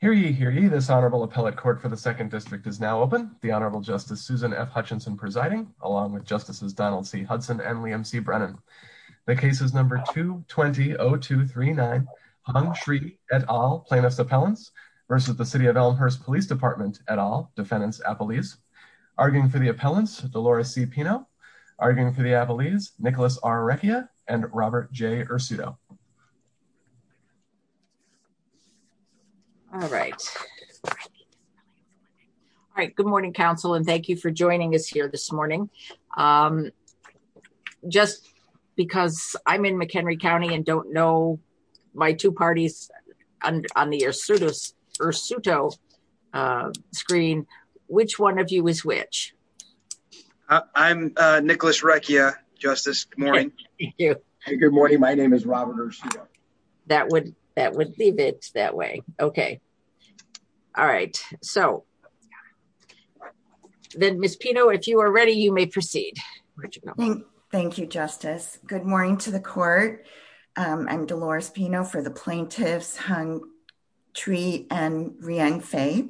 Hear ye, hear ye, this Honorable Appellate Court for the Second District is now open. The Honorable Justice Susan F. Hutchinson presiding, along with Justices Donald C. Hudson and Liam C. Brennan. The case is number 220239, Hung Shree et al., Plaintiffs' Appellants, versus the City of Elmhurst Police Department et al., Defendants' Appellees. Arguing for the Appellants, Delores C. Pino. Arguing for the Appellees, Nicholas R. Recchia and Robert J. Ursuto. All right. All right, good morning Council and thank you for joining us here this morning. Just because I'm in McHenry County and don't know my two parties on the Ursuto screen, which one of you is which? I'm Nicholas Recchia, Justice. Good morning. Good morning. My name is Robert Ursuto. All right, so. Then Miss Pino, if you are ready, you may proceed. Thank you, Justice. Good morning to the court. I'm Delores Pino for the Plaintiffs, Hung Shree et al.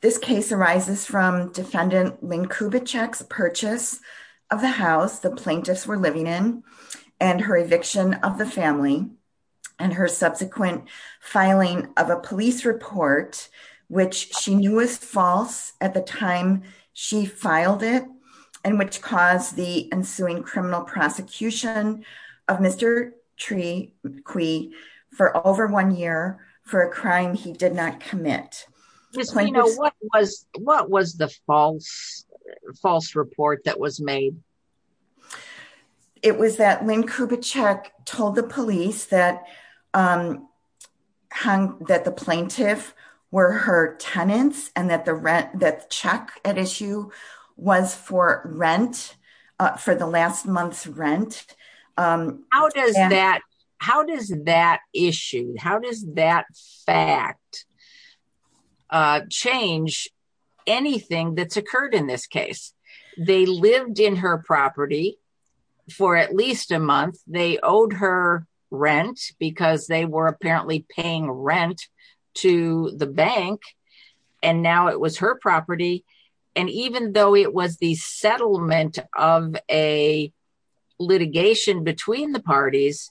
This case arises from defendant Lynn Kubitschek's purchase of the house the plaintiffs were living in and her eviction of the family. And her subsequent filing of a police report, which she knew was false at the time she filed it. And which caused the ensuing criminal prosecution of Mr. Trequie for over one year for a crime he did not commit. Miss Pino, what was the false report that was made? It was that Lynn Kubitschek told the police that the plaintiff were her tenants and that the check at issue was for rent, for the last month's rent. How does that issue, how does that fact change anything that's occurred in this case? They lived in her property for at least a month. They owed her rent because they were apparently paying rent to the bank. And now it was her property. And even though it was the settlement of a litigation between the parties,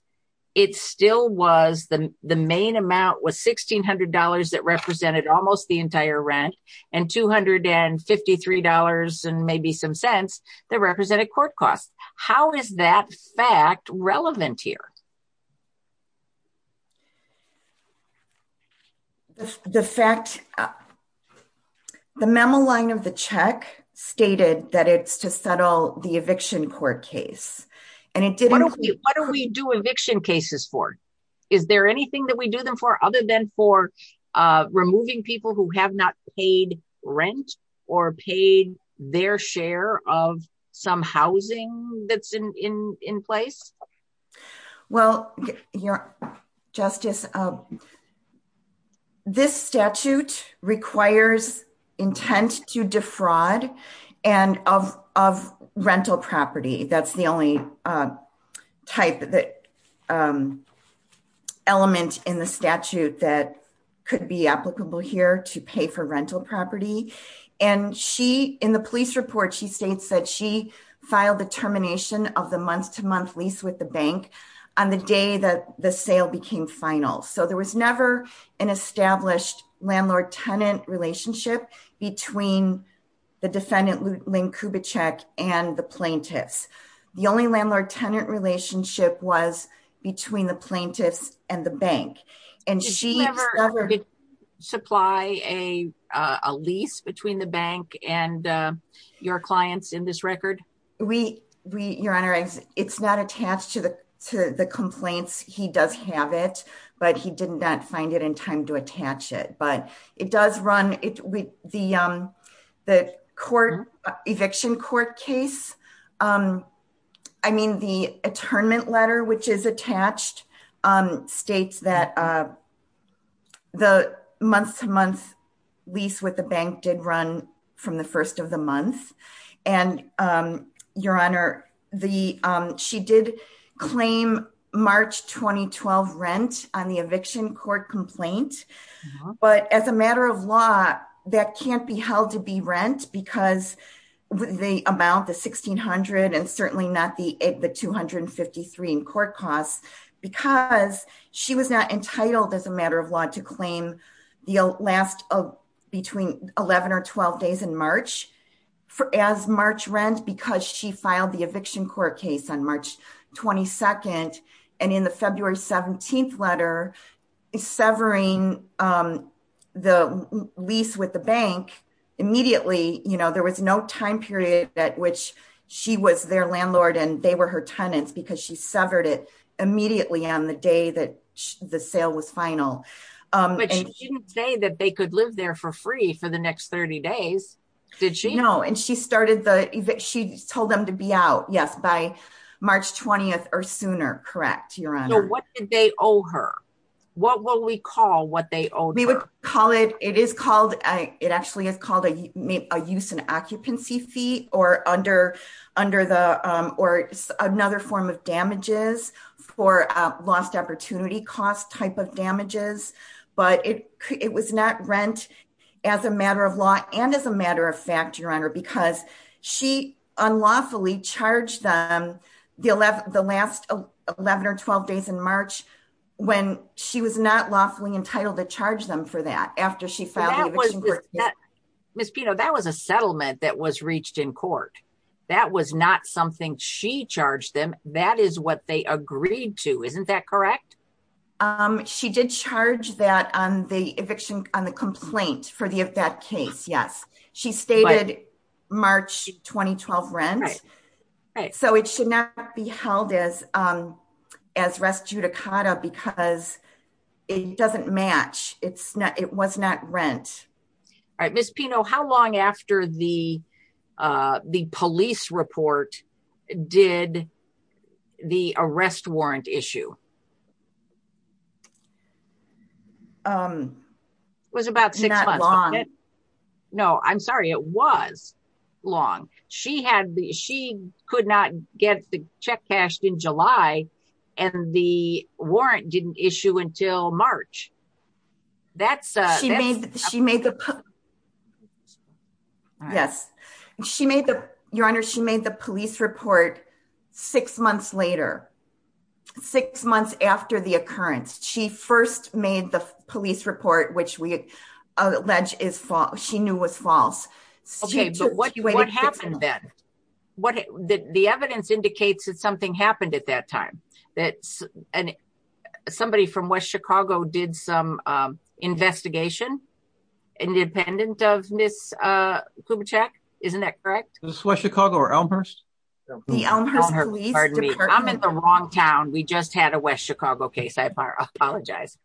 it still was the main amount was $1,600 that represented almost the entire rent and $253 and maybe some cents that represented court costs. How is that fact relevant here? The fact, the memo line of the check stated that it's to settle the eviction court case, and it didn't... What do we do eviction cases for? Is there anything that we do them for other than for removing people who have not paid rent or paid their share of some housing that's in place? Well, Justice, this statute requires intent to defraud and of rental property. That's the only type of element in the statute that could be applicable here to pay for rental property. In the police report, she states that she filed the termination of the month-to-month lease with the bank on the day that the sale became final. So there was never an established landlord-tenant relationship between the defendant, Lynn Kubitschek, and the plaintiffs. The only landlord-tenant relationship was between the plaintiffs and the bank. Did she ever supply a lease between the bank and your clients in this record? Your Honor, it's not attached to the complaints. He does have it, but he did not find it in time to attach it. But it does run with the court eviction court case. I mean, the attornment letter, which is attached, states that the month-to-month lease with the bank did run from the first of the month. Your Honor, she did claim March 2012 rent on the eviction court complaint. But as a matter of law, that can't be held to be rent because the amount, the $1,600, and certainly not the $253 in court costs. Because she was not entitled as a matter of law to claim the last between 11 or 12 days in March as March rent because she filed the eviction court case on March 22nd. And in the February 17th letter, severing the lease with the bank immediately, there was no time period at which she was their landlord and they were her tenants because she severed it immediately on the day that the sale was final. But she didn't say that they could live there for free for the next 30 days, did she? No, and she told them to be out, yes, by March 20th or sooner, correct, Your Honor? So what did they owe her? What will we call what they owed her? We would call it, it is called, it actually is called a use and occupancy fee or under the, or another form of damages for lost opportunity cost type of damages. But it was not rent as a matter of law and as a matter of fact, Your Honor, because she unlawfully charged them the last 11 or 12 days in March when she was not lawfully entitled to charge them for that after she filed the eviction court case. Ms. Pino, that was a settlement that was reached in court. That was not something she charged them. That is what they agreed to. Isn't that correct? She did charge that on the eviction, on the complaint for that case, yes. She stated March 2012 rent. So it should not be held as res judicata because it doesn't match. It's not, it was not rent. All right, Ms. Pino, how long after the police report did the arrest warrant issue? It was about six months. Not long. No, I'm sorry. It was long. She had, she could not get the check cashed in July and the warrant didn't issue until March. She made the police report six months later, six months after the occurrence. She first made the police report, which we allege is false. She knew was false. Okay, but what happened then? The evidence indicates that something happened at that time. Somebody from West Chicago did some investigation independent of Ms. Kubitschek. Isn't that correct? Was it West Chicago or Elmhurst? The Elmhurst police department. I'm in the wrong town. We just had a West Chicago case. I apologize.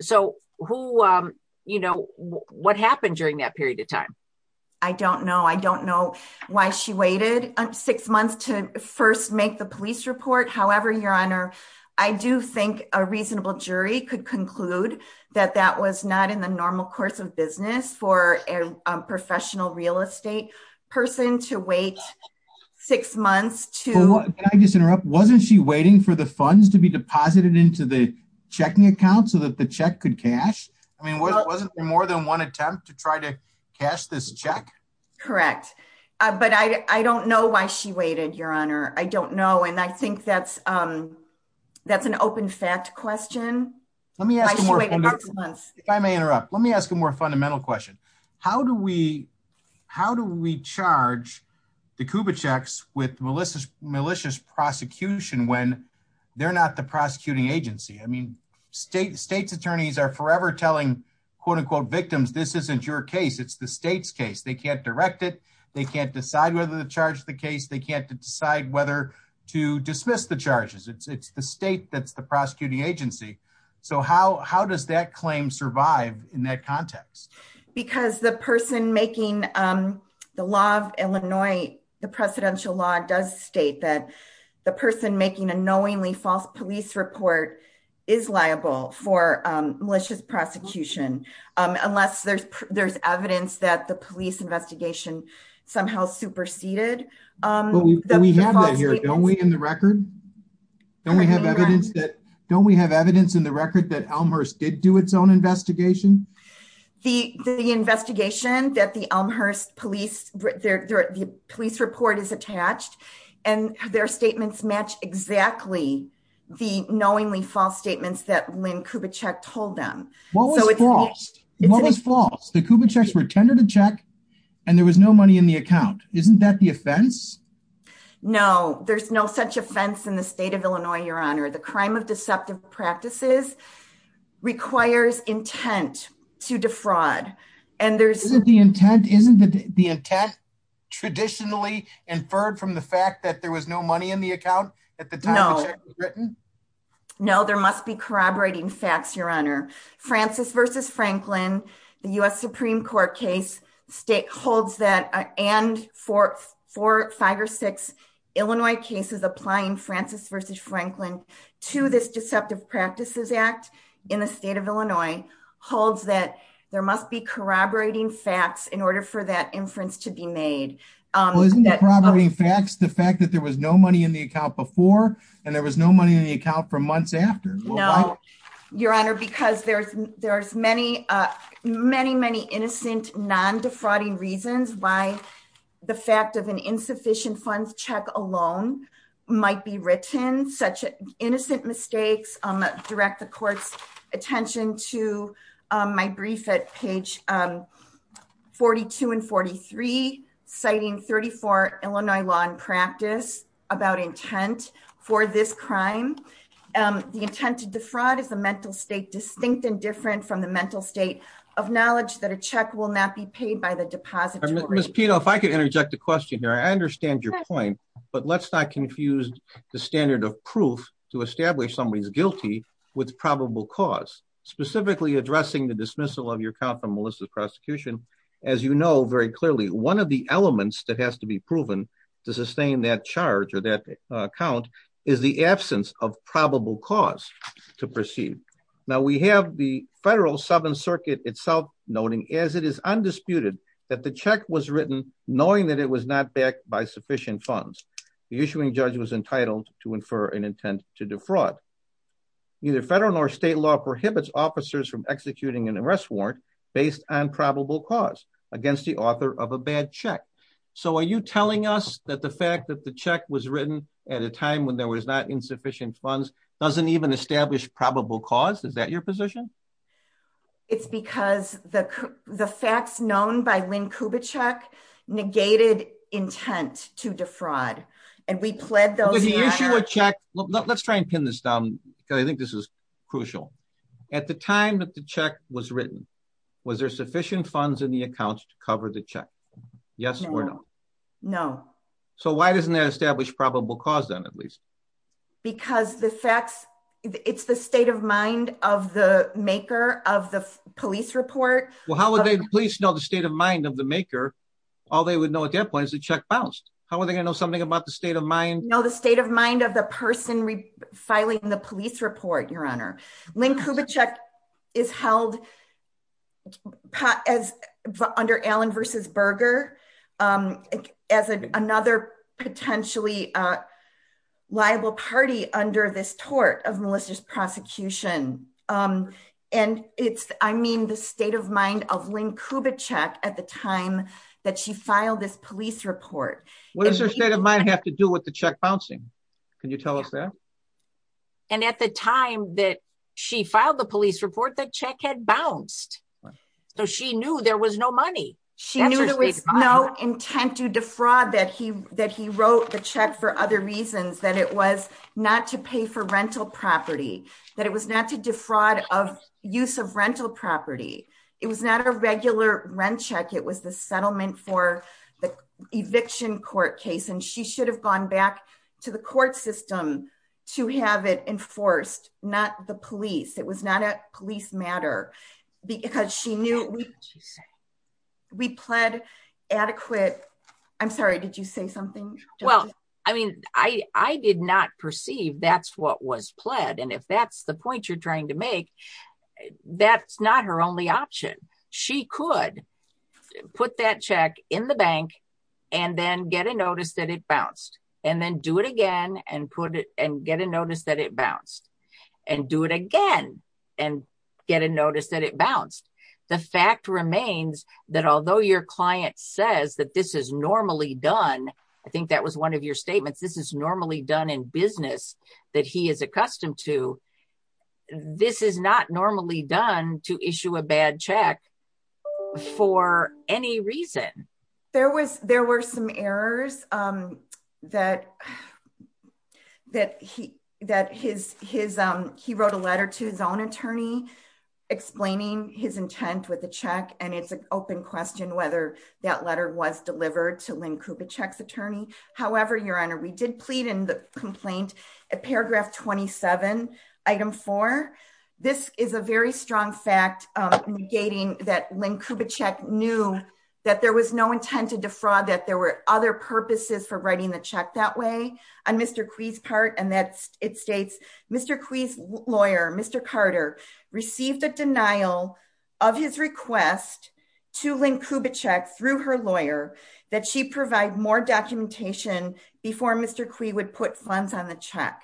So who, you know, what happened during that period of time? I don't know. I don't know why she waited six months to first make the police report. However, Your Honor, I do think a reasonable jury could conclude that that was not in the normal course of business for a professional real estate person to wait six months to Can I just interrupt? Wasn't she waiting for the funds to be deposited into the checking account so that the check could cash? I mean, wasn't there more than one attempt to try to cash this check? Correct. But I don't know why she waited, Your Honor. I don't know. And I think that's an open fact question. I may interrupt. Let me ask a more fundamental question. How do we charge the Kubitscheks with malicious prosecution when they're not the prosecuting agency? I mean, state's attorneys are forever telling quote unquote victims, this isn't your case. It's the state's case. They can't direct it. They can't decide whether to charge the case. They can't decide whether to dismiss the charges. It's the state that's the prosecuting agency. So how does that claim survive in that context? Because the person making the law of Illinois, the presidential law, does state that the person making a knowingly false police report is liable for malicious prosecution, unless there's evidence that the police investigation somehow superseded. But we have that here, don't we, in the record? Don't we have evidence in the record that Elmhurst did do its own investigation? The investigation that the Elmhurst police report is attached and their statements match exactly the knowingly false statements that Lynn Kubitschek told them. What was false? The Kubitscheks were tender to check and there was no money in the account. Isn't that the offense? No, there's no such offense in the state of Illinois, Your Honor. The crime of deceptive practices requires intent to defraud. Isn't the intent traditionally inferred from the fact that there was no money in the account at the time the check was written? No, there must be corroborating facts, Your Honor. Francis v. Franklin, the U.S. Supreme Court case holds that and four, five or six Illinois cases applying Francis v. Franklin to this deceptive practices act in the state of Illinois holds that there must be corroborating facts in order for that inference to be made. Isn't corroborating facts the fact that there was no money in the account before and there was no money in the account for months after? No, Your Honor, because there's many, many, many innocent non-defrauding reasons why the fact of an insufficient funds check alone might be written. Such innocent mistakes direct the court's attention to my brief at page 42 and 43, citing 34 Illinois law and practice about intent for this crime. The intent to defraud is a mental state distinct and different from the mental state of knowledge that a check will not be paid by the depository. Ms. Pito, if I could interject a question here. I understand your point, but let's not confuse the standard of proof to establish somebody's guilty with probable cause. Specifically addressing the dismissal of your account from Melissa's prosecution, as you know, very clearly, one of the elements that has to be proven to sustain that charge or that account is the absence of probable cause to proceed. Now we have the federal Seventh Circuit itself noting as it is undisputed that the check was written, knowing that it was not backed by sufficient funds. The issuing judge was entitled to infer an intent to defraud. Neither federal nor state law prohibits officers from executing an arrest warrant based on probable cause against the author of a bad check. So are you telling us that the fact that the check was written at a time when there was not insufficient funds doesn't even establish probable cause? Is that your position? It's because the facts known by Lynn Kubitschek negated intent to defraud and we pled those matters. Let's try and pin this down because I think this is crucial. At the time that the check was written, was there sufficient funds in the accounts to cover the check? Yes or no? No. So why doesn't that establish probable cause then at least? Because the facts, it's the state of mind of the maker of the police report. Well, how would the police know the state of mind of the maker? All they would know at that point is the check bounced. How are they going to know something about the state of mind? The state of mind of the person filing the police report, your honor. Lynn Kubitschek is held under Allen v. Berger as another potentially liable party under this tort of Melissa's prosecution. And it's, I mean, the state of mind of Lynn Kubitschek at the time that she filed this police report. What does her state of mind have to do with the check bouncing? Can you tell us that? And at the time that she filed the police report, the check had bounced. So she knew there was no money. She knew there was no intent to defraud that he wrote the check for other reasons, that it was not to pay for rental property, that it was not to defraud of use of rental property. It was not a regular rent check. It was the settlement for the eviction court case. And she should have gone back to the court system to have it enforced, not the police. It was not a police matter. Because she knew we pled adequate. I'm sorry, did you say something? Well, I mean, I did not perceive that's what was pled. And if that's the point you're trying to make, that's not her only option. She could put that check in the bank and then get a notice that it bounced and then do it again and get a notice that it bounced and do it again and get a notice that it bounced. The fact remains that although your client says that this is normally done, I think that was one of your statements, this is normally done in business that he is accustomed to. This is not normally done to issue a bad check for any reason. There were some errors that he wrote a letter to his own attorney explaining his intent with the check, and it's an open question whether that letter was delivered to Lynn Kupieczek's attorney. However, Your Honor, we did plead in the complaint at paragraph 27, item four. This is a very strong fact negating that Lynn Kupieczek knew that there was no intent to defraud that there were other purposes for writing the check that way. And that it states, Mr. Kui's lawyer, Mr. Carter, received a denial of his request to Lynn Kupieczek through her lawyer that she provide more documentation before Mr. Kui would put funds on the check.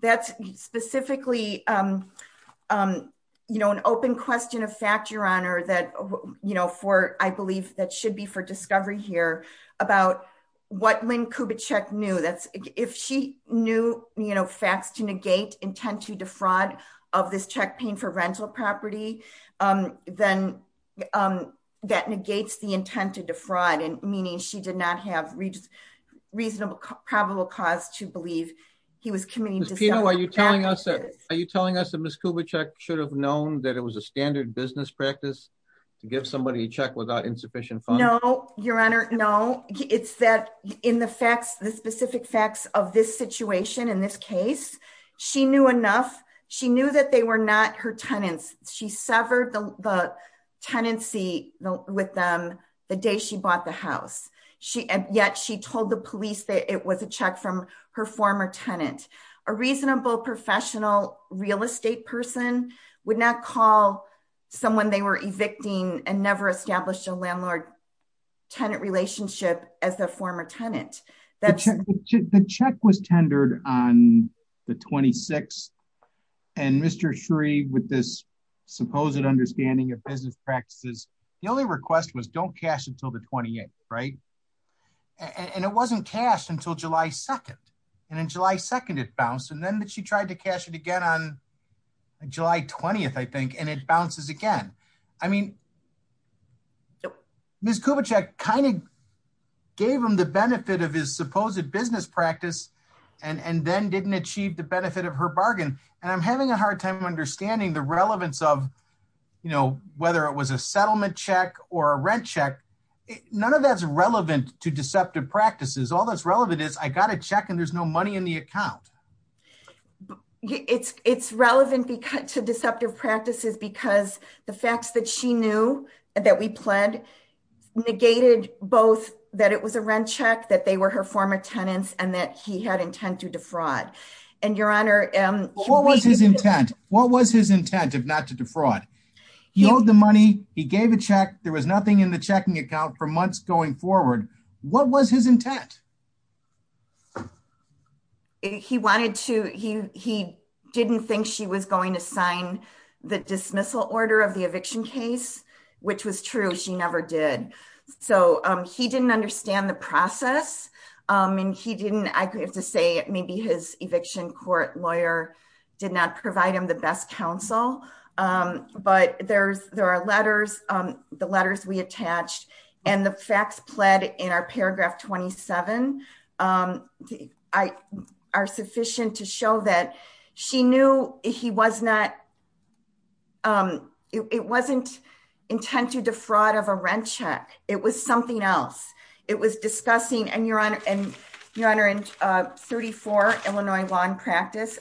That's specifically, you know, an open question of fact, Your Honor, that, you know, for I believe that should be for discovery here about what Lynn Kupieczek knew. That's if she knew, you know, facts to negate intent to defraud of this check paying for rental property, then that negates the intent to defraud and meaning she did not have reasonable probable cause to believe he was committing. Are you telling us that are you telling us that Ms. Kupieczek should have known that it was a standard business practice to give somebody a check without insufficient funds? No, Your Honor. No, it's that in the facts, the specific facts of this situation in this case, she knew enough. She knew that they were not her tenants. She severed the tenancy with them the day she bought the house. She and yet she told the police that it was a check from her former tenant, a reasonable professional real estate person would not call someone they were evicting and never established a landlord tenant relationship as the former tenant. The check was tendered on the 26th. And Mr. Shree, with this supposed understanding of business practices, the only request was don't cash until the 28th, right? And it wasn't cashed until July 2nd. And in July 2nd, it bounced and then she tried to cash it again on July 20th, I think, and it bounces again. I mean, Ms. Kupieczek kind of gave him the benefit of his supposed business practice and then didn't achieve the benefit of her bargain. And I'm having a hard time understanding the relevance of, you know, whether it was a settlement check or a rent check. None of that's relevant to deceptive practices. All that's relevant is I got a check and there's no money in the account. It's relevant to deceptive practices because the facts that she knew that we pled negated both that it was a rent check, that they were her former tenants and that he had intent to defraud. And Your Honor. What was his intent? What was his intent of not to defraud? He owed the money. He gave a check. There was nothing in the checking account for months going forward. What was his intent? He wanted to he he didn't think she was going to sign the dismissal order of the eviction case, which was true. She never did. So he didn't understand the process. And he didn't I have to say maybe his eviction court lawyer did not provide him the best counsel. But there's there are letters, the letters we attached and the facts pled in our paragraph 27 are sufficient to show that she knew he was not. It wasn't intent to defraud of a rent check. It was something else. It was discussing and your honor and your honor and 34 Illinois lawn practice.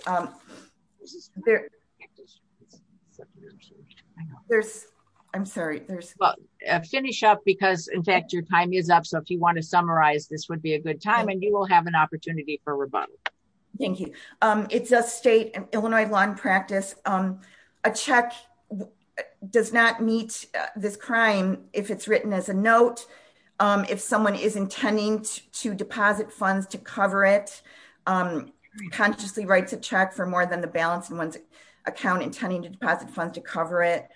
There's, I'm sorry, there's a finish up because in fact your time is up. So if you want to summarize this would be a good time and you will have an opportunity for rebuttal. Thank you. It's a state and Illinois lawn practice. A check does not meet this crime. If it's written as a note. If someone is intending to deposit funds to cover it consciously writes a check for more than the balance in one's account intending to deposit funds to cover it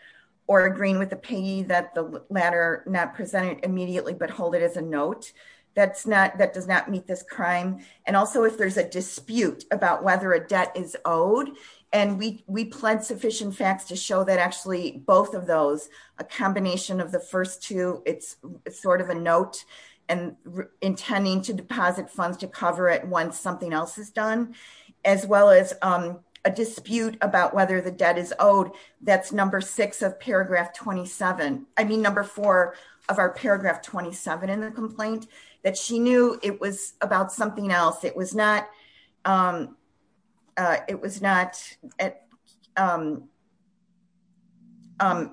or agreeing with the payee that the latter not presented immediately but hold it as a note. That's not that does not meet this crime. And also if there's a dispute about whether a debt is owed. And we we pled sufficient facts to show that actually both of those, a combination of the first two, it's sort of a note and intending to deposit funds to cover it once something else is done, as well as a dispute about whether the debt is owed. That's number six of paragraph 27, I mean number four of our paragraph 27 in the complaint that she knew it was about something else it was not. It was not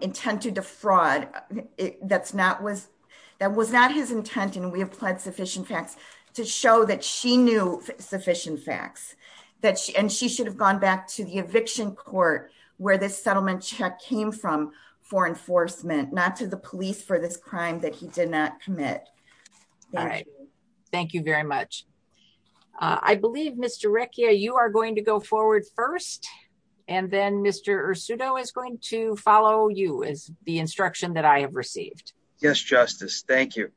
intended to fraud. That's not was that was not his intent and we applied sufficient facts to show that she knew sufficient facts that she and she should have gone back to the eviction court where this settlement check came from for enforcement, not to the police for this crime that he did not commit. All right. Thank you very much. I believe Mr Rick yeah you are going to go forward first, and then Mr pseudo is going to follow you as the instruction that I have received. Yes, justice. Thank you.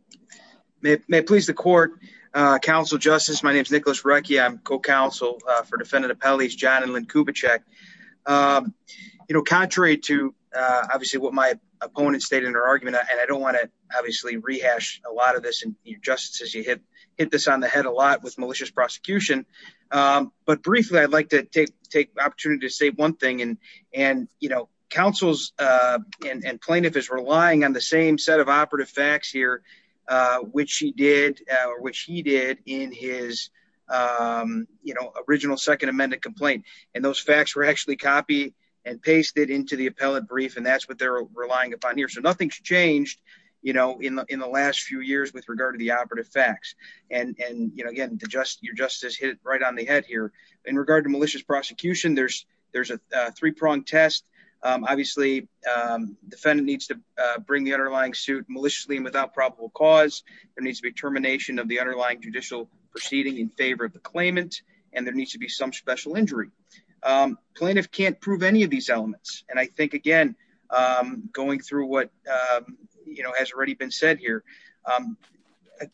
May it please the court. Council justice my name is Nicholas Ricky I'm co counsel for defendant appellees john and Lynn Kubitschek, you know, contrary to obviously what my opponent stated in her argument and I don't want to obviously rehash, a lot of this and you just as you hit, hit this on the head a lot with malicious prosecution. But briefly I'd like to take, take opportunity to say one thing and, and, you know, councils and plaintiff is relying on the same set of operative facts here, which he did, which he did in his, you know, original Second Amendment complaint, and those facts were actually copy and paste it into the appellate brief and that's what they're relying upon here so nothing's changed. You know, in the, in the last few years with regard to the operative facts, and you know getting to just your justice hit right on the head here in regard to malicious prosecution there's, there's a three pronged test. Obviously, defendant needs to bring the underlying suit maliciously and without probable cause, there needs to be termination of the underlying judicial proceeding in favor of the claimant, and there needs to be some special injury plaintiff can't prove any of these elements, and I think again, going through what, you know, has already been said here.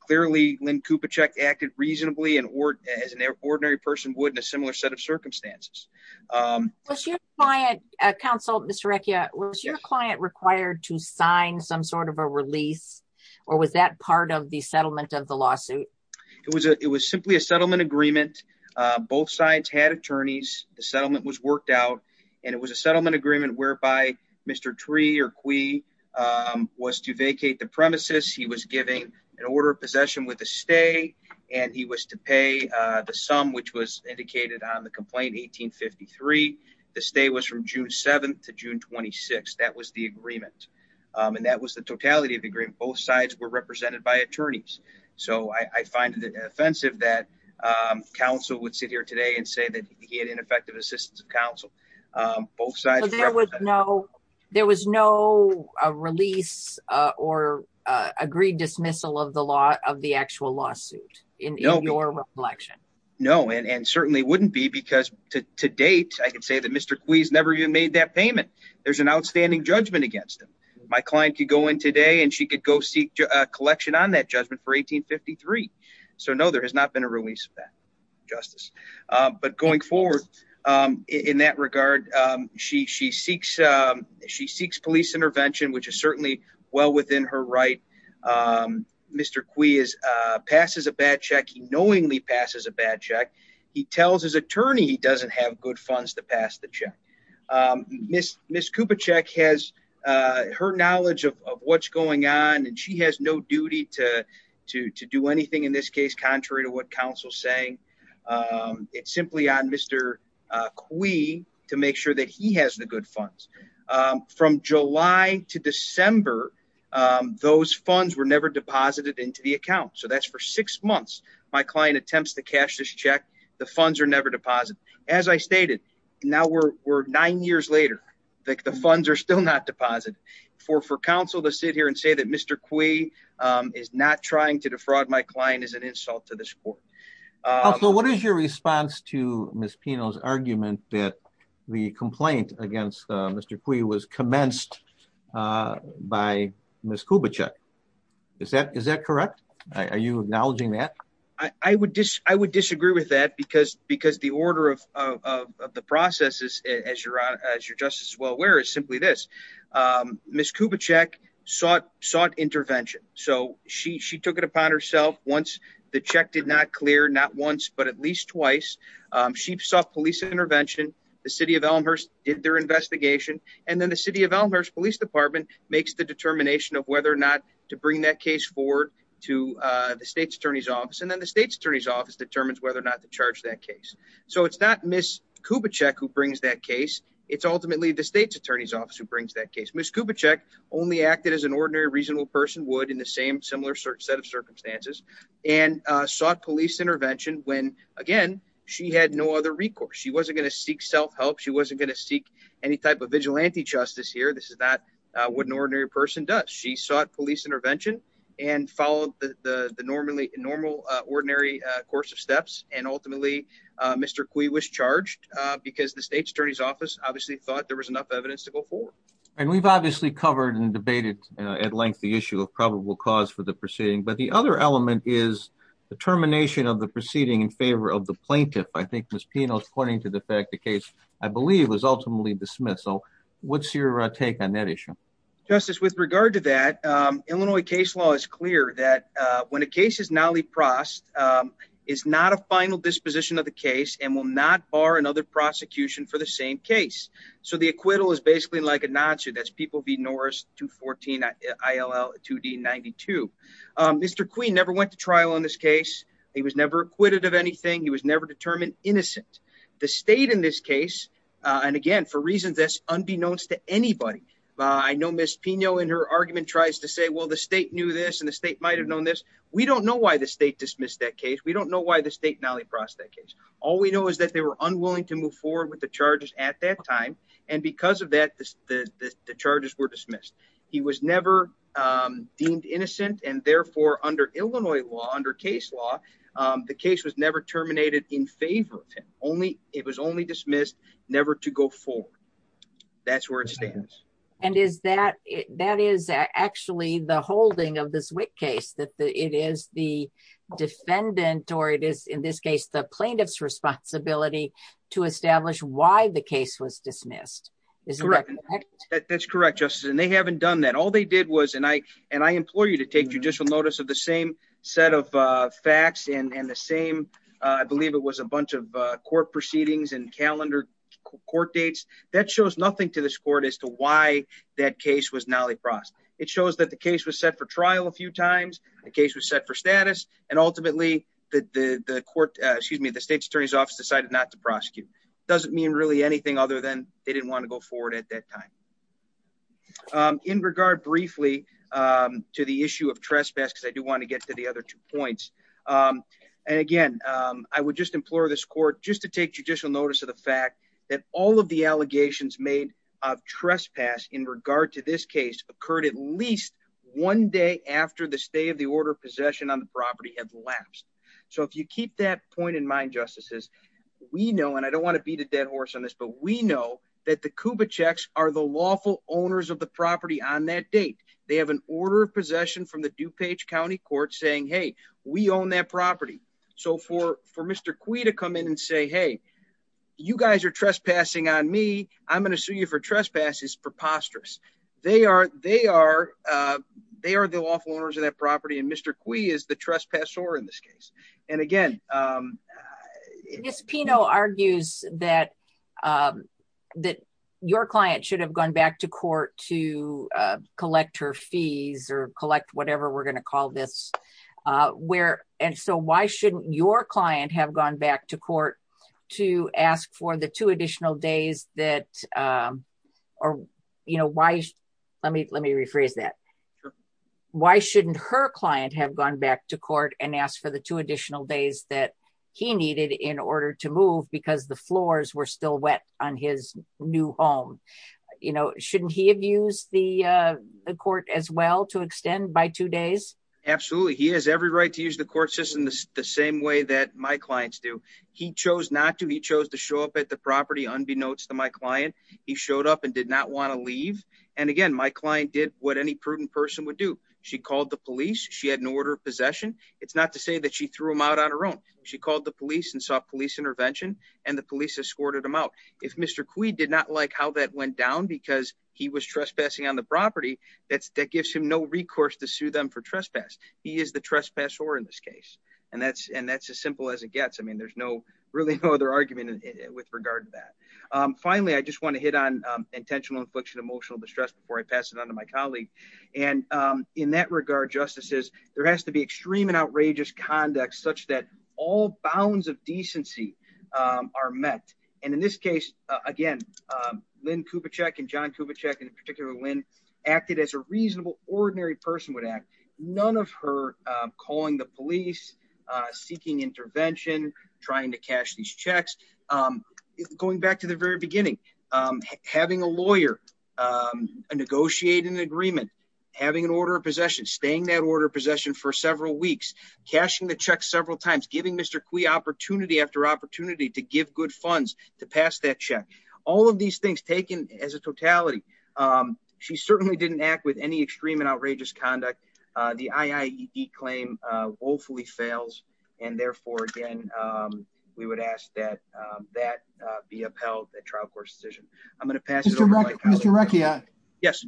Clearly, Lynn cupa check acted reasonably and or as an ordinary person wouldn't a similar set of circumstances. Was your client, counsel, Mr. Rekia was your client required to sign some sort of a release, or was that part of the settlement of the lawsuit. It was a, it was simply a settlement agreement. Both sides had attorneys, the settlement was worked out, and it was a settlement agreement whereby Mr tree or we was to vacate the premises he was giving an order of possession with a stay, and he was to pay the sum which was indicated on the complaint 1853. The stay was from June 7 to June 26 that was the agreement. And that was the totality of the agreement both sides were represented by attorneys. So I find it offensive that counsel would sit here today and say that he had ineffective assistance of counsel. There was no, there was no release or agreed dismissal of the law of the actual lawsuit in your reflection. No, and certainly wouldn't be because to date, I can say that Mr quiz never even made that payment. There's an outstanding judgment against him. My client could go in today and she could go seek collection on that judgment for 1853. So no, there has not been a release of that justice, but going forward. In that regard, she she seeks. She seeks police intervention which is certainly well within her right. Mr quiz passes a bad check he knowingly passes a bad check. He tells his attorney he doesn't have good funds to pass the check. Miss Miss Cooper check has her knowledge of what's going on and she has no duty to to do anything in this case contrary to what counsel saying. It's simply on Mr. We to make sure that he has the good funds from July to December. Those funds were never deposited into the account. So that's for six months. My client attempts to cash this check. The funds are never deposited as I stated. Now we're nine years later, like the funds are still not deposit for for counsel to sit here and say that Mr. Quay is not trying to defraud my client is an insult to the sport. So what is your response to Miss Pino's argument that the complaint against Mr. Quay was commenced by Miss Cuba check. Is that is that correct. Are you acknowledging that I would just I would disagree with that because because the order of the process is as you're as you're just as well aware is simply this Miss Cuba check sought sought intervention. So she she took it upon herself once the check did not clear not once but at least twice. She saw police intervention. The city of Elmhurst did their investigation. And then the city of Elmhurst Police Department makes the determination of whether or not to bring that case forward to the state's attorney's office. And then the state's attorney's office determines whether or not to charge that case. So it's not Miss Kubitschek who brings that case. It's ultimately the state's attorney's office who brings that case. Miss Kubitschek only acted as an ordinary reasonable person would in the same similar set of circumstances and sought police intervention. When again, she had no other recourse. She wasn't going to seek self-help. She wasn't going to seek any type of vigilante justice here. This is not what an ordinary person does. She sought police intervention and followed the normally normal ordinary course of steps. And ultimately, Mr. Cui was charged because the state's attorney's office obviously thought there was enough evidence to go forward. And we've obviously covered and debated at length the issue of probable cause for the proceeding. But the other element is the termination of the proceeding in favor of the plaintiff. I think Miss Pino's pointing to the fact the case, I believe, was ultimately dismissed. So what's your take on that issue? Justice, with regard to that, Illinois case law is clear that when a case is not leapfrost, it's not a final disposition of the case and will not bar another prosecution for the same case. So the acquittal is basically like a Nazi. That's people be Norris to 14, ILL 2D 92. Mr. Cui never went to trial on this case. He was never acquitted of anything. He was never determined innocent. The state in this case. And again, for reasons that's unbeknownst to anybody. I know Miss Pino in her argument tries to say, well, the state knew this and the state might have known this. We don't know why the state dismissed that case. We don't know why the state now leapfrost that case. All we know is that they were unwilling to move forward with the charges at that time. And because of that, the charges were dismissed. He was never deemed innocent. And therefore, under Illinois law, under case law, the case was never terminated in favor of him. Only it was only dismissed, never to go forward. That's where it stands. And is that that is actually the holding of this case, that it is the defendant or it is, in this case, the plaintiff's responsibility to establish why the case was dismissed. That's correct, Justice. And they haven't done that. All they did was. And I and I implore you to take judicial notice of the same set of facts and the same. I believe it was a bunch of court proceedings and calendar court dates. That shows nothing to this court as to why that case was now leapfrost. It shows that the case was set for trial a few times. The case was set for status. And ultimately, the court, excuse me, the state's attorney's office decided not to prosecute. Doesn't mean really anything other than they didn't want to go forward at that time. In regard briefly to the issue of trespass, because I do want to get to the other two points. And again, I would just implore this court just to take judicial notice of the fact that all of the allegations made of trespass in regard to this case occurred at least one day after the stay of the order of possession on the property had lapsed. So if you keep that point in mind, justices, we know and I don't want to beat a dead horse on this, but we know that the Cuba checks are the lawful owners of the property on that date. They have an order of possession from the DuPage County Court saying, hey, we own that property. So for for Mr. Cui to come in and say, hey, you guys are trespassing on me. I'm going to sue you for trespass is preposterous. They are. They are the lawful owners of that property. And Mr. Cui is the trespasser in this case. And again, Pino argues that that your client should have gone back to court to collect her fees or collect whatever we're going to call this where. And so why shouldn't your client have gone back to court to ask for the two additional days that are. You know, why? Let me let me rephrase that. Why shouldn't her client have gone back to court and asked for the two additional days that he needed in order to move because the floors were still wet on his new home? You know, shouldn't he have used the court as well to extend by two days? Absolutely. He has every right to use the court system the same way that my clients do. He chose not to. He chose to show up at the property unbeknownst to my client. He showed up and did not want to leave. And again, my client did what any prudent person would do. She called the police. She had an order of possession. It's not to say that she threw him out on her own. She called the police and saw police intervention and the police escorted him out. If Mr. Cui did not like how that went down because he was trespassing on the property, that's that gives him no recourse to sue them for trespass. He is the trespasser in this case. And that's and that's as simple as it gets. I mean, there's no really no other argument with regard to that. Finally, I just want to hit on intentional infliction, emotional distress before I pass it on to my colleague. And in that regard, justices, there has to be extreme and outrageous conduct such that all bounds of decency are met. And in this case, again, Lynn Kubitschek and John Kubitschek in particular, when acted as a reasonable, ordinary person would act. None of her calling the police, seeking intervention, trying to cash these checks. Going back to the very beginning, having a lawyer, a negotiating agreement, having an order of possession, staying that order of possession for several weeks, cashing the check several times, giving Mr. Cui opportunity after opportunity to give good funds to pass that check. All of these things taken as a totality. She certainly didn't act with any extreme and outrageous conduct. The IAEA claim woefully fails. And therefore, again, we would ask that that be upheld. A trial court decision. I'm going to pass it to you. Yes.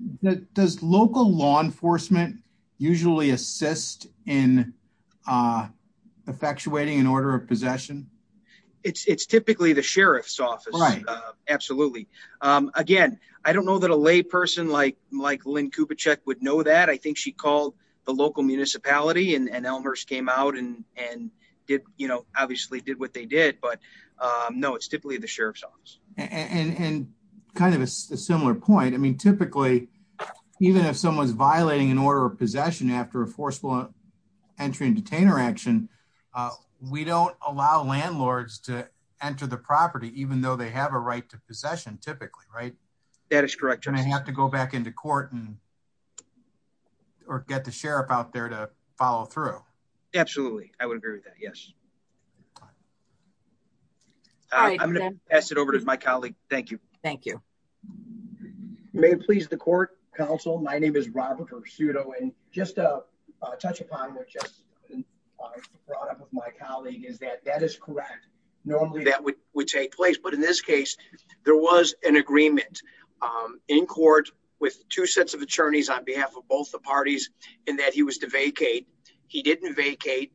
Does local law enforcement usually assist in effectuating an order of possession? It's typically the sheriff's office. Right. Absolutely. Again, I don't know that a lay person like like Lynn Kubitschek would know that. I think she called the local municipality and Elmhurst came out and did, you know, obviously did what they did. But no, it's typically the sheriff's office. And kind of a similar point. I mean, typically, even if someone's violating an order of possession after a forceful entry and detainer action, we don't allow landlords to enter the property, even though they have a right to possession typically. Right. That is correct. And I have to go back into court and or get the sheriff out there to follow through. Absolutely. I would agree with that. Yes. I'm going to pass it over to my colleague. Thank you. Thank you. May it please the court counsel. My name is Robert Pursuto and just a touch upon what just brought up with my colleague is that that is correct. Normally, that would would take place. But in this case, there was an agreement in court with two sets of attorneys on behalf of both the parties in that he was to vacate. He didn't vacate.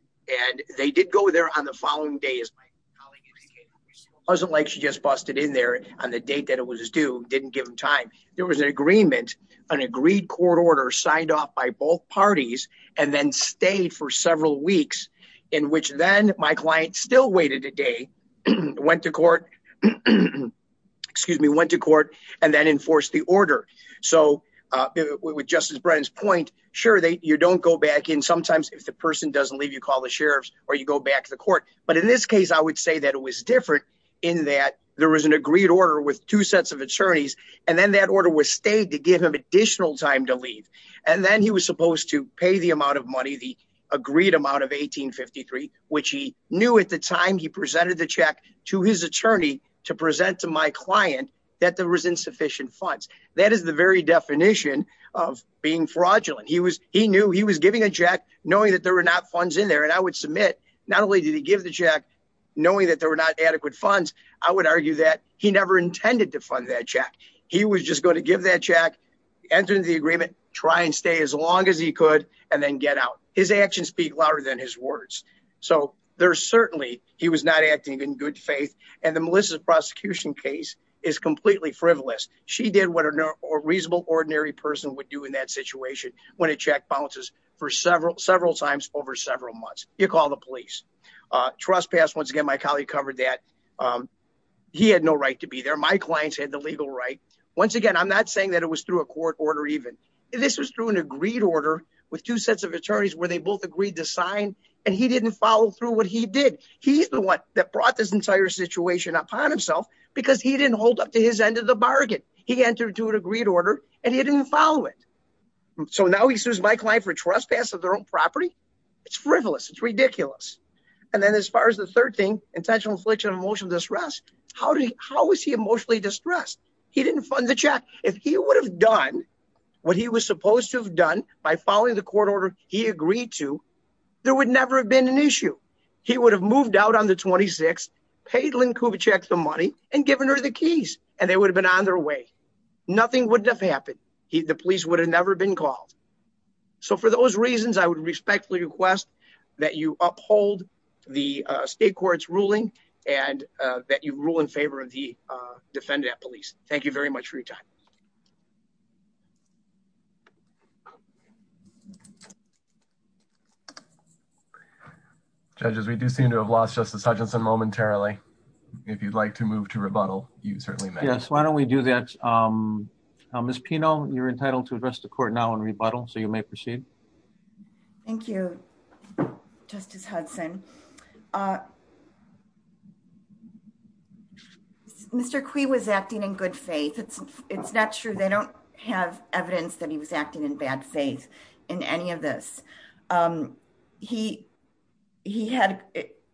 And they did go there on the following day, as my colleague indicated. It wasn't like she just busted in there on the date that it was due. Didn't give him time. There was an agreement, an agreed court order signed off by both parties and then stayed for several weeks in which then my client still waited a day, went to court. Excuse me, went to court and then enforced the order. So with Justice Brennan's point, sure, you don't go back in. Sometimes if the person doesn't leave, you call the sheriffs or you go back to the court. But in this case, I would say that it was different in that there was an agreed order with two sets of attorneys. And then that order was stayed to give him additional time to leave. And then he was supposed to pay the amount of money, the agreed amount of 1853, which he knew at the time he presented the check to his attorney to present to my client that there was insufficient funds. That is the very definition of being fraudulent. He was he knew he was giving a check knowing that there were not funds in there. And I would submit not only did he give the check knowing that there were not adequate funds, I would argue that he never intended to fund that check. He was just going to give that check, enter into the agreement, try and stay as long as he could and then get out. His actions speak louder than his words. So there's certainly he was not acting in good faith. And the Melissa's prosecution case is completely frivolous. She did what a reasonable, ordinary person would do in that situation when a check bounces for several, several times over several months. You call the police trespass. Once again, my colleague covered that he had no right to be there. My clients had the legal right. Once again, I'm not saying that it was through a court order. Even this was through an agreed order with two sets of attorneys where they both agreed to sign and he didn't follow through what he did. He's the one that brought this entire situation upon himself because he didn't hold up to his end of the bargain. He entered to an agreed order and he didn't follow it. So now he sues my client for trespass of their own property. It's frivolous. It's ridiculous. And then as far as the third thing, intentional infliction of emotional distress. How do you how is he emotionally distressed? He didn't fund the check. If he would have done what he was supposed to have done by following the court order he agreed to, there would never have been an issue. He would have moved out on the 26th, paid Lynn Kubitschek the money and given her the keys and they would have been on their way. Nothing would have happened. The police would have never been called. So for those reasons, I would respectfully request that you uphold the state court's ruling and that you rule in favor of the defendant police. Thank you very much for your time. Judges, we do seem to have lost Justice Hutchinson momentarily. If you'd like to move to rebuttal, you certainly may. Yes. Why don't we do that? Ms. Pino, you're entitled to address the court now and rebuttal. So you may proceed. Thank you, Justice Hudson. Mr. Quay was acting in good faith. It's not true. They don't have evidence that he was acting in bad faith in any of this. He he had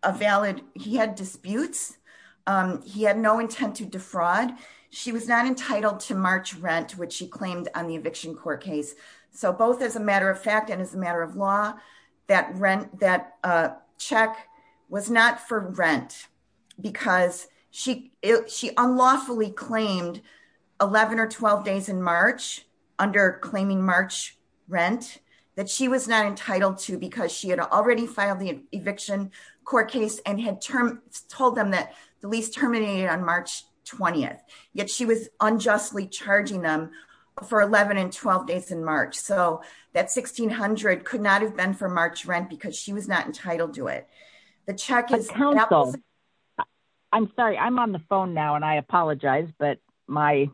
a valid he had disputes. He had no intent to defraud. She was not entitled to March rent, which she claimed on the eviction court case. So both as a matter of fact and as a matter of law, that rent that check was not for rent because she she unlawfully claimed 11 or 12 days in March under claiming March rent that she was not entitled to because she had already filed the eviction court case and had told them that the lease terminated on March 20th. Yet she was unjustly charging them for 11 and 12 days in March. So that 1600 could not have been for March rent because she was not entitled to it. The check is helpful. I'm sorry, I'm on the phone now and I apologize, but my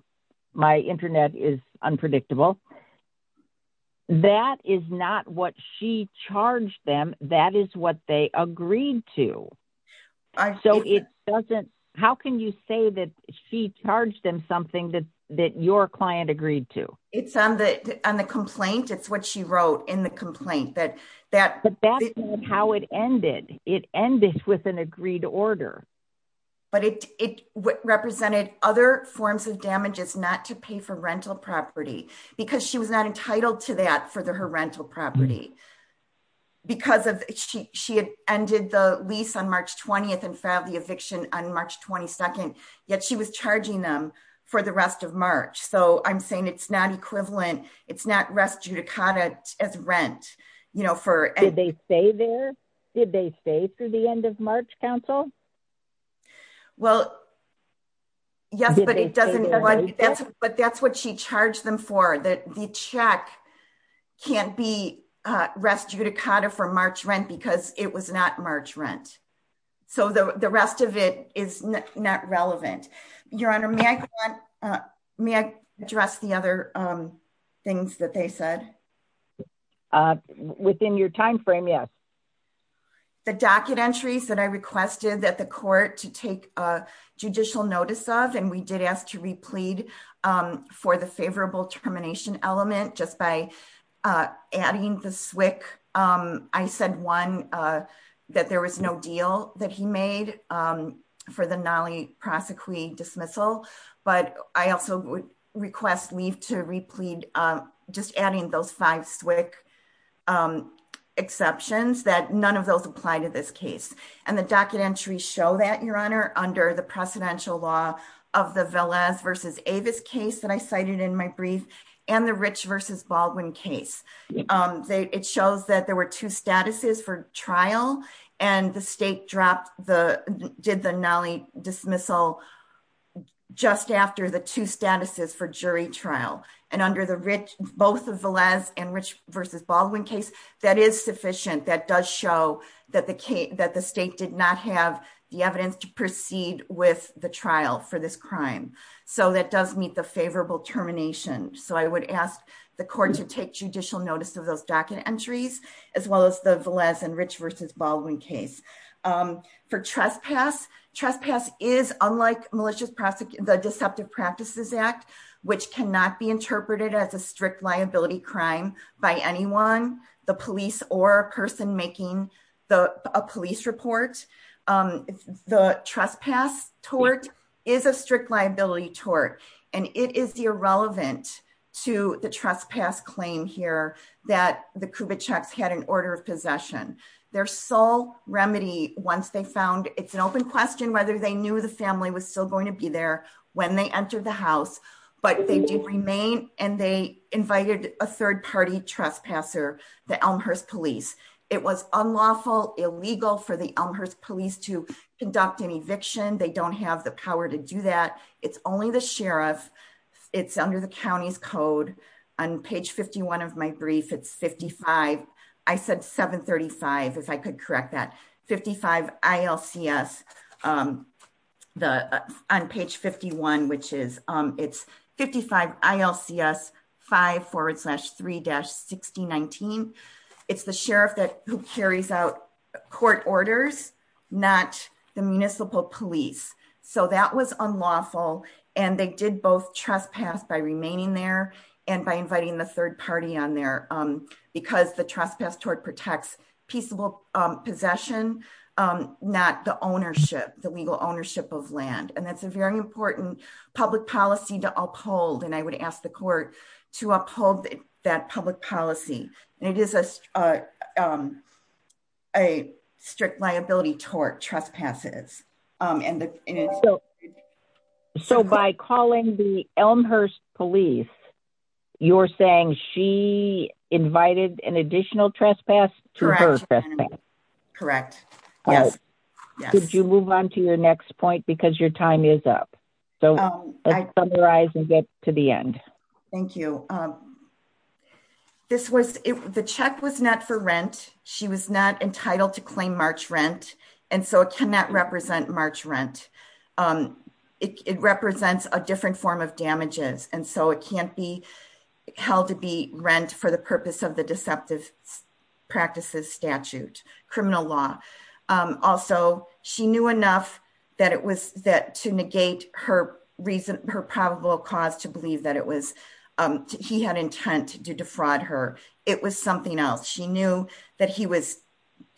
my Internet is unpredictable. That is not what she charged them. That is what they agreed to. So it doesn't. How can you say that she charged them something that that your client agreed to? It's on the on the complaint. It's what she wrote in the complaint that that that's how it ended. It ended with an agreed to order. But it represented other forms of damages not to pay for rental property because she was not entitled to that for the her rental property. Because of she she had ended the lease on March 20th and filed the eviction on March 22nd. Yet she was charging them for the rest of March. So I'm saying it's not equivalent. It's not rest judicata as rent, you know, for and they stay there. Did they stay through the end of March Council? Well. Yes, but it doesn't. But that's what she charged them for that. The check can't be rest judicata for March rent because it was not March rent. So the rest of it is not relevant. Your Honor. May I may I address the other things that they said? Within your time frame. Yes. The docket entries that I requested that the court to take a judicial notice of and we did ask to replete for the favorable termination element just by adding the SWCC. I said one that there was no deal that he made for the Nali prosecuting dismissal. But I also request leave to replete just adding those five SWCC exceptions that none of those apply to this case. And the docket entry show that your Honor under the precedential law of the Villas versus Avis case that I cited in my brief and the rich versus Baldwin case. It shows that there were two statuses for trial and the state dropped the did the Nali dismissal just after the two statuses for jury trial and under the rich both of the last and rich versus Baldwin case that is sufficient that does show that the case that the state did not have the evidence to proceed with the trial for this crime. So that does meet the favorable termination. So I would ask the court to take judicial notice of those docket entries as well as the Villas and rich versus Baldwin case for trespass trespass is unlike malicious prosecute the deceptive practices act, which cannot be interpreted as a strict liability crime by anyone the police or a person making the police report. The trespass tort is a strict liability tort, and it is irrelevant to the trespass claim here that the Cuba checks had an order of possession, their sole remedy, once they found it's an open question whether they knew the family was still going to be there. When they entered the house, but they did remain, and they invited a third party trespasser, the Elmhurst police, it was unlawful illegal for the Elmhurst police to conduct an eviction they don't have the power to do that. It's only the sheriff. It's under the county's code on page 51 of my brief it's 55. I said 735 if I could correct that 55 ILCS, the on page 51 which is, it's 55 ILCS five forward slash three dash 1619. It's the sheriff that who carries out court orders, not the municipal police, so that was unlawful, and they did both trespass by remaining there, and by inviting the third party on there. Because the trespass tort protects peaceable possession, not the ownership, the legal ownership of land and that's a very important public policy to uphold and I would ask the court to uphold that public policy, and it is a strict liability tort trespasses. And so by calling the Elmhurst police, you're saying she invited an additional trespass. Correct. Yes. Did you move on to your next point because your time is up. So, I summarize and get to the end. Thank you. This was the check was not for rent. She was not entitled to claim March rent. And so it cannot represent March rent. It represents a different form of damages, and so it can't be held to be rent for the purpose of the deceptive practices statute criminal law. Also, she knew enough that it was that to negate her reason her probable cause to believe that it was. He had intent to defraud her. It was something else she knew that he was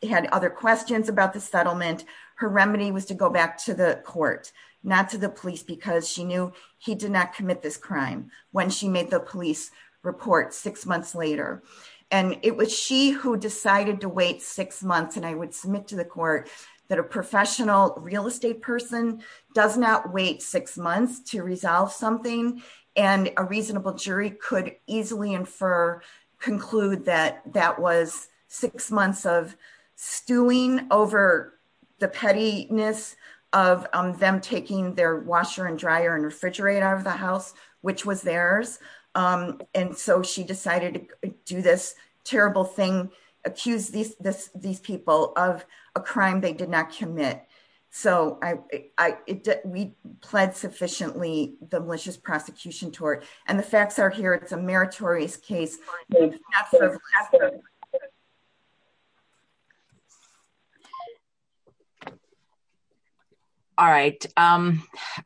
had other questions about the settlement, her remedy was to go back to the court, not to the police because she knew he did not commit this crime. When she made the police report six months later, and it was she who decided to wait six months and I would submit to the court that a professional real estate person does not wait six months to resolve something. And a reasonable jury could easily infer conclude that that was six months of stewing over the pettiness of them taking their washer and dryer and refrigerator of the house, which was theirs. And so she decided to do this terrible thing, accuse these, these people of a crime they did not commit. So, I, we pled sufficiently the malicious prosecution toward, and the facts are here it's a meritorious case. All right. I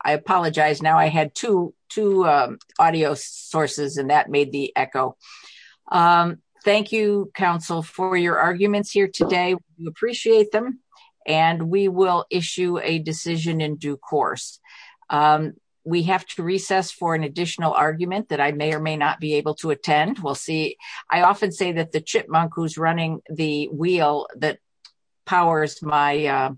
apologize now I had to to audio sources and that made the echo. Thank you, counsel for your arguments here today, we appreciate them, and we will issue a decision in due course. We have to recess for an additional argument that I may or may not be able to attend, we'll see. I often say that the chipmunk who's running the wheel that powers my,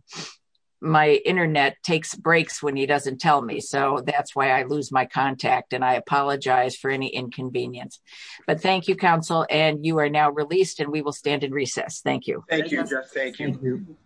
my internet takes breaks when he doesn't tell me so that's why I lose my contact and I apologize for any inconvenience. But thank you counsel and you are now released and we will stand in recess. Thank you. Thank you.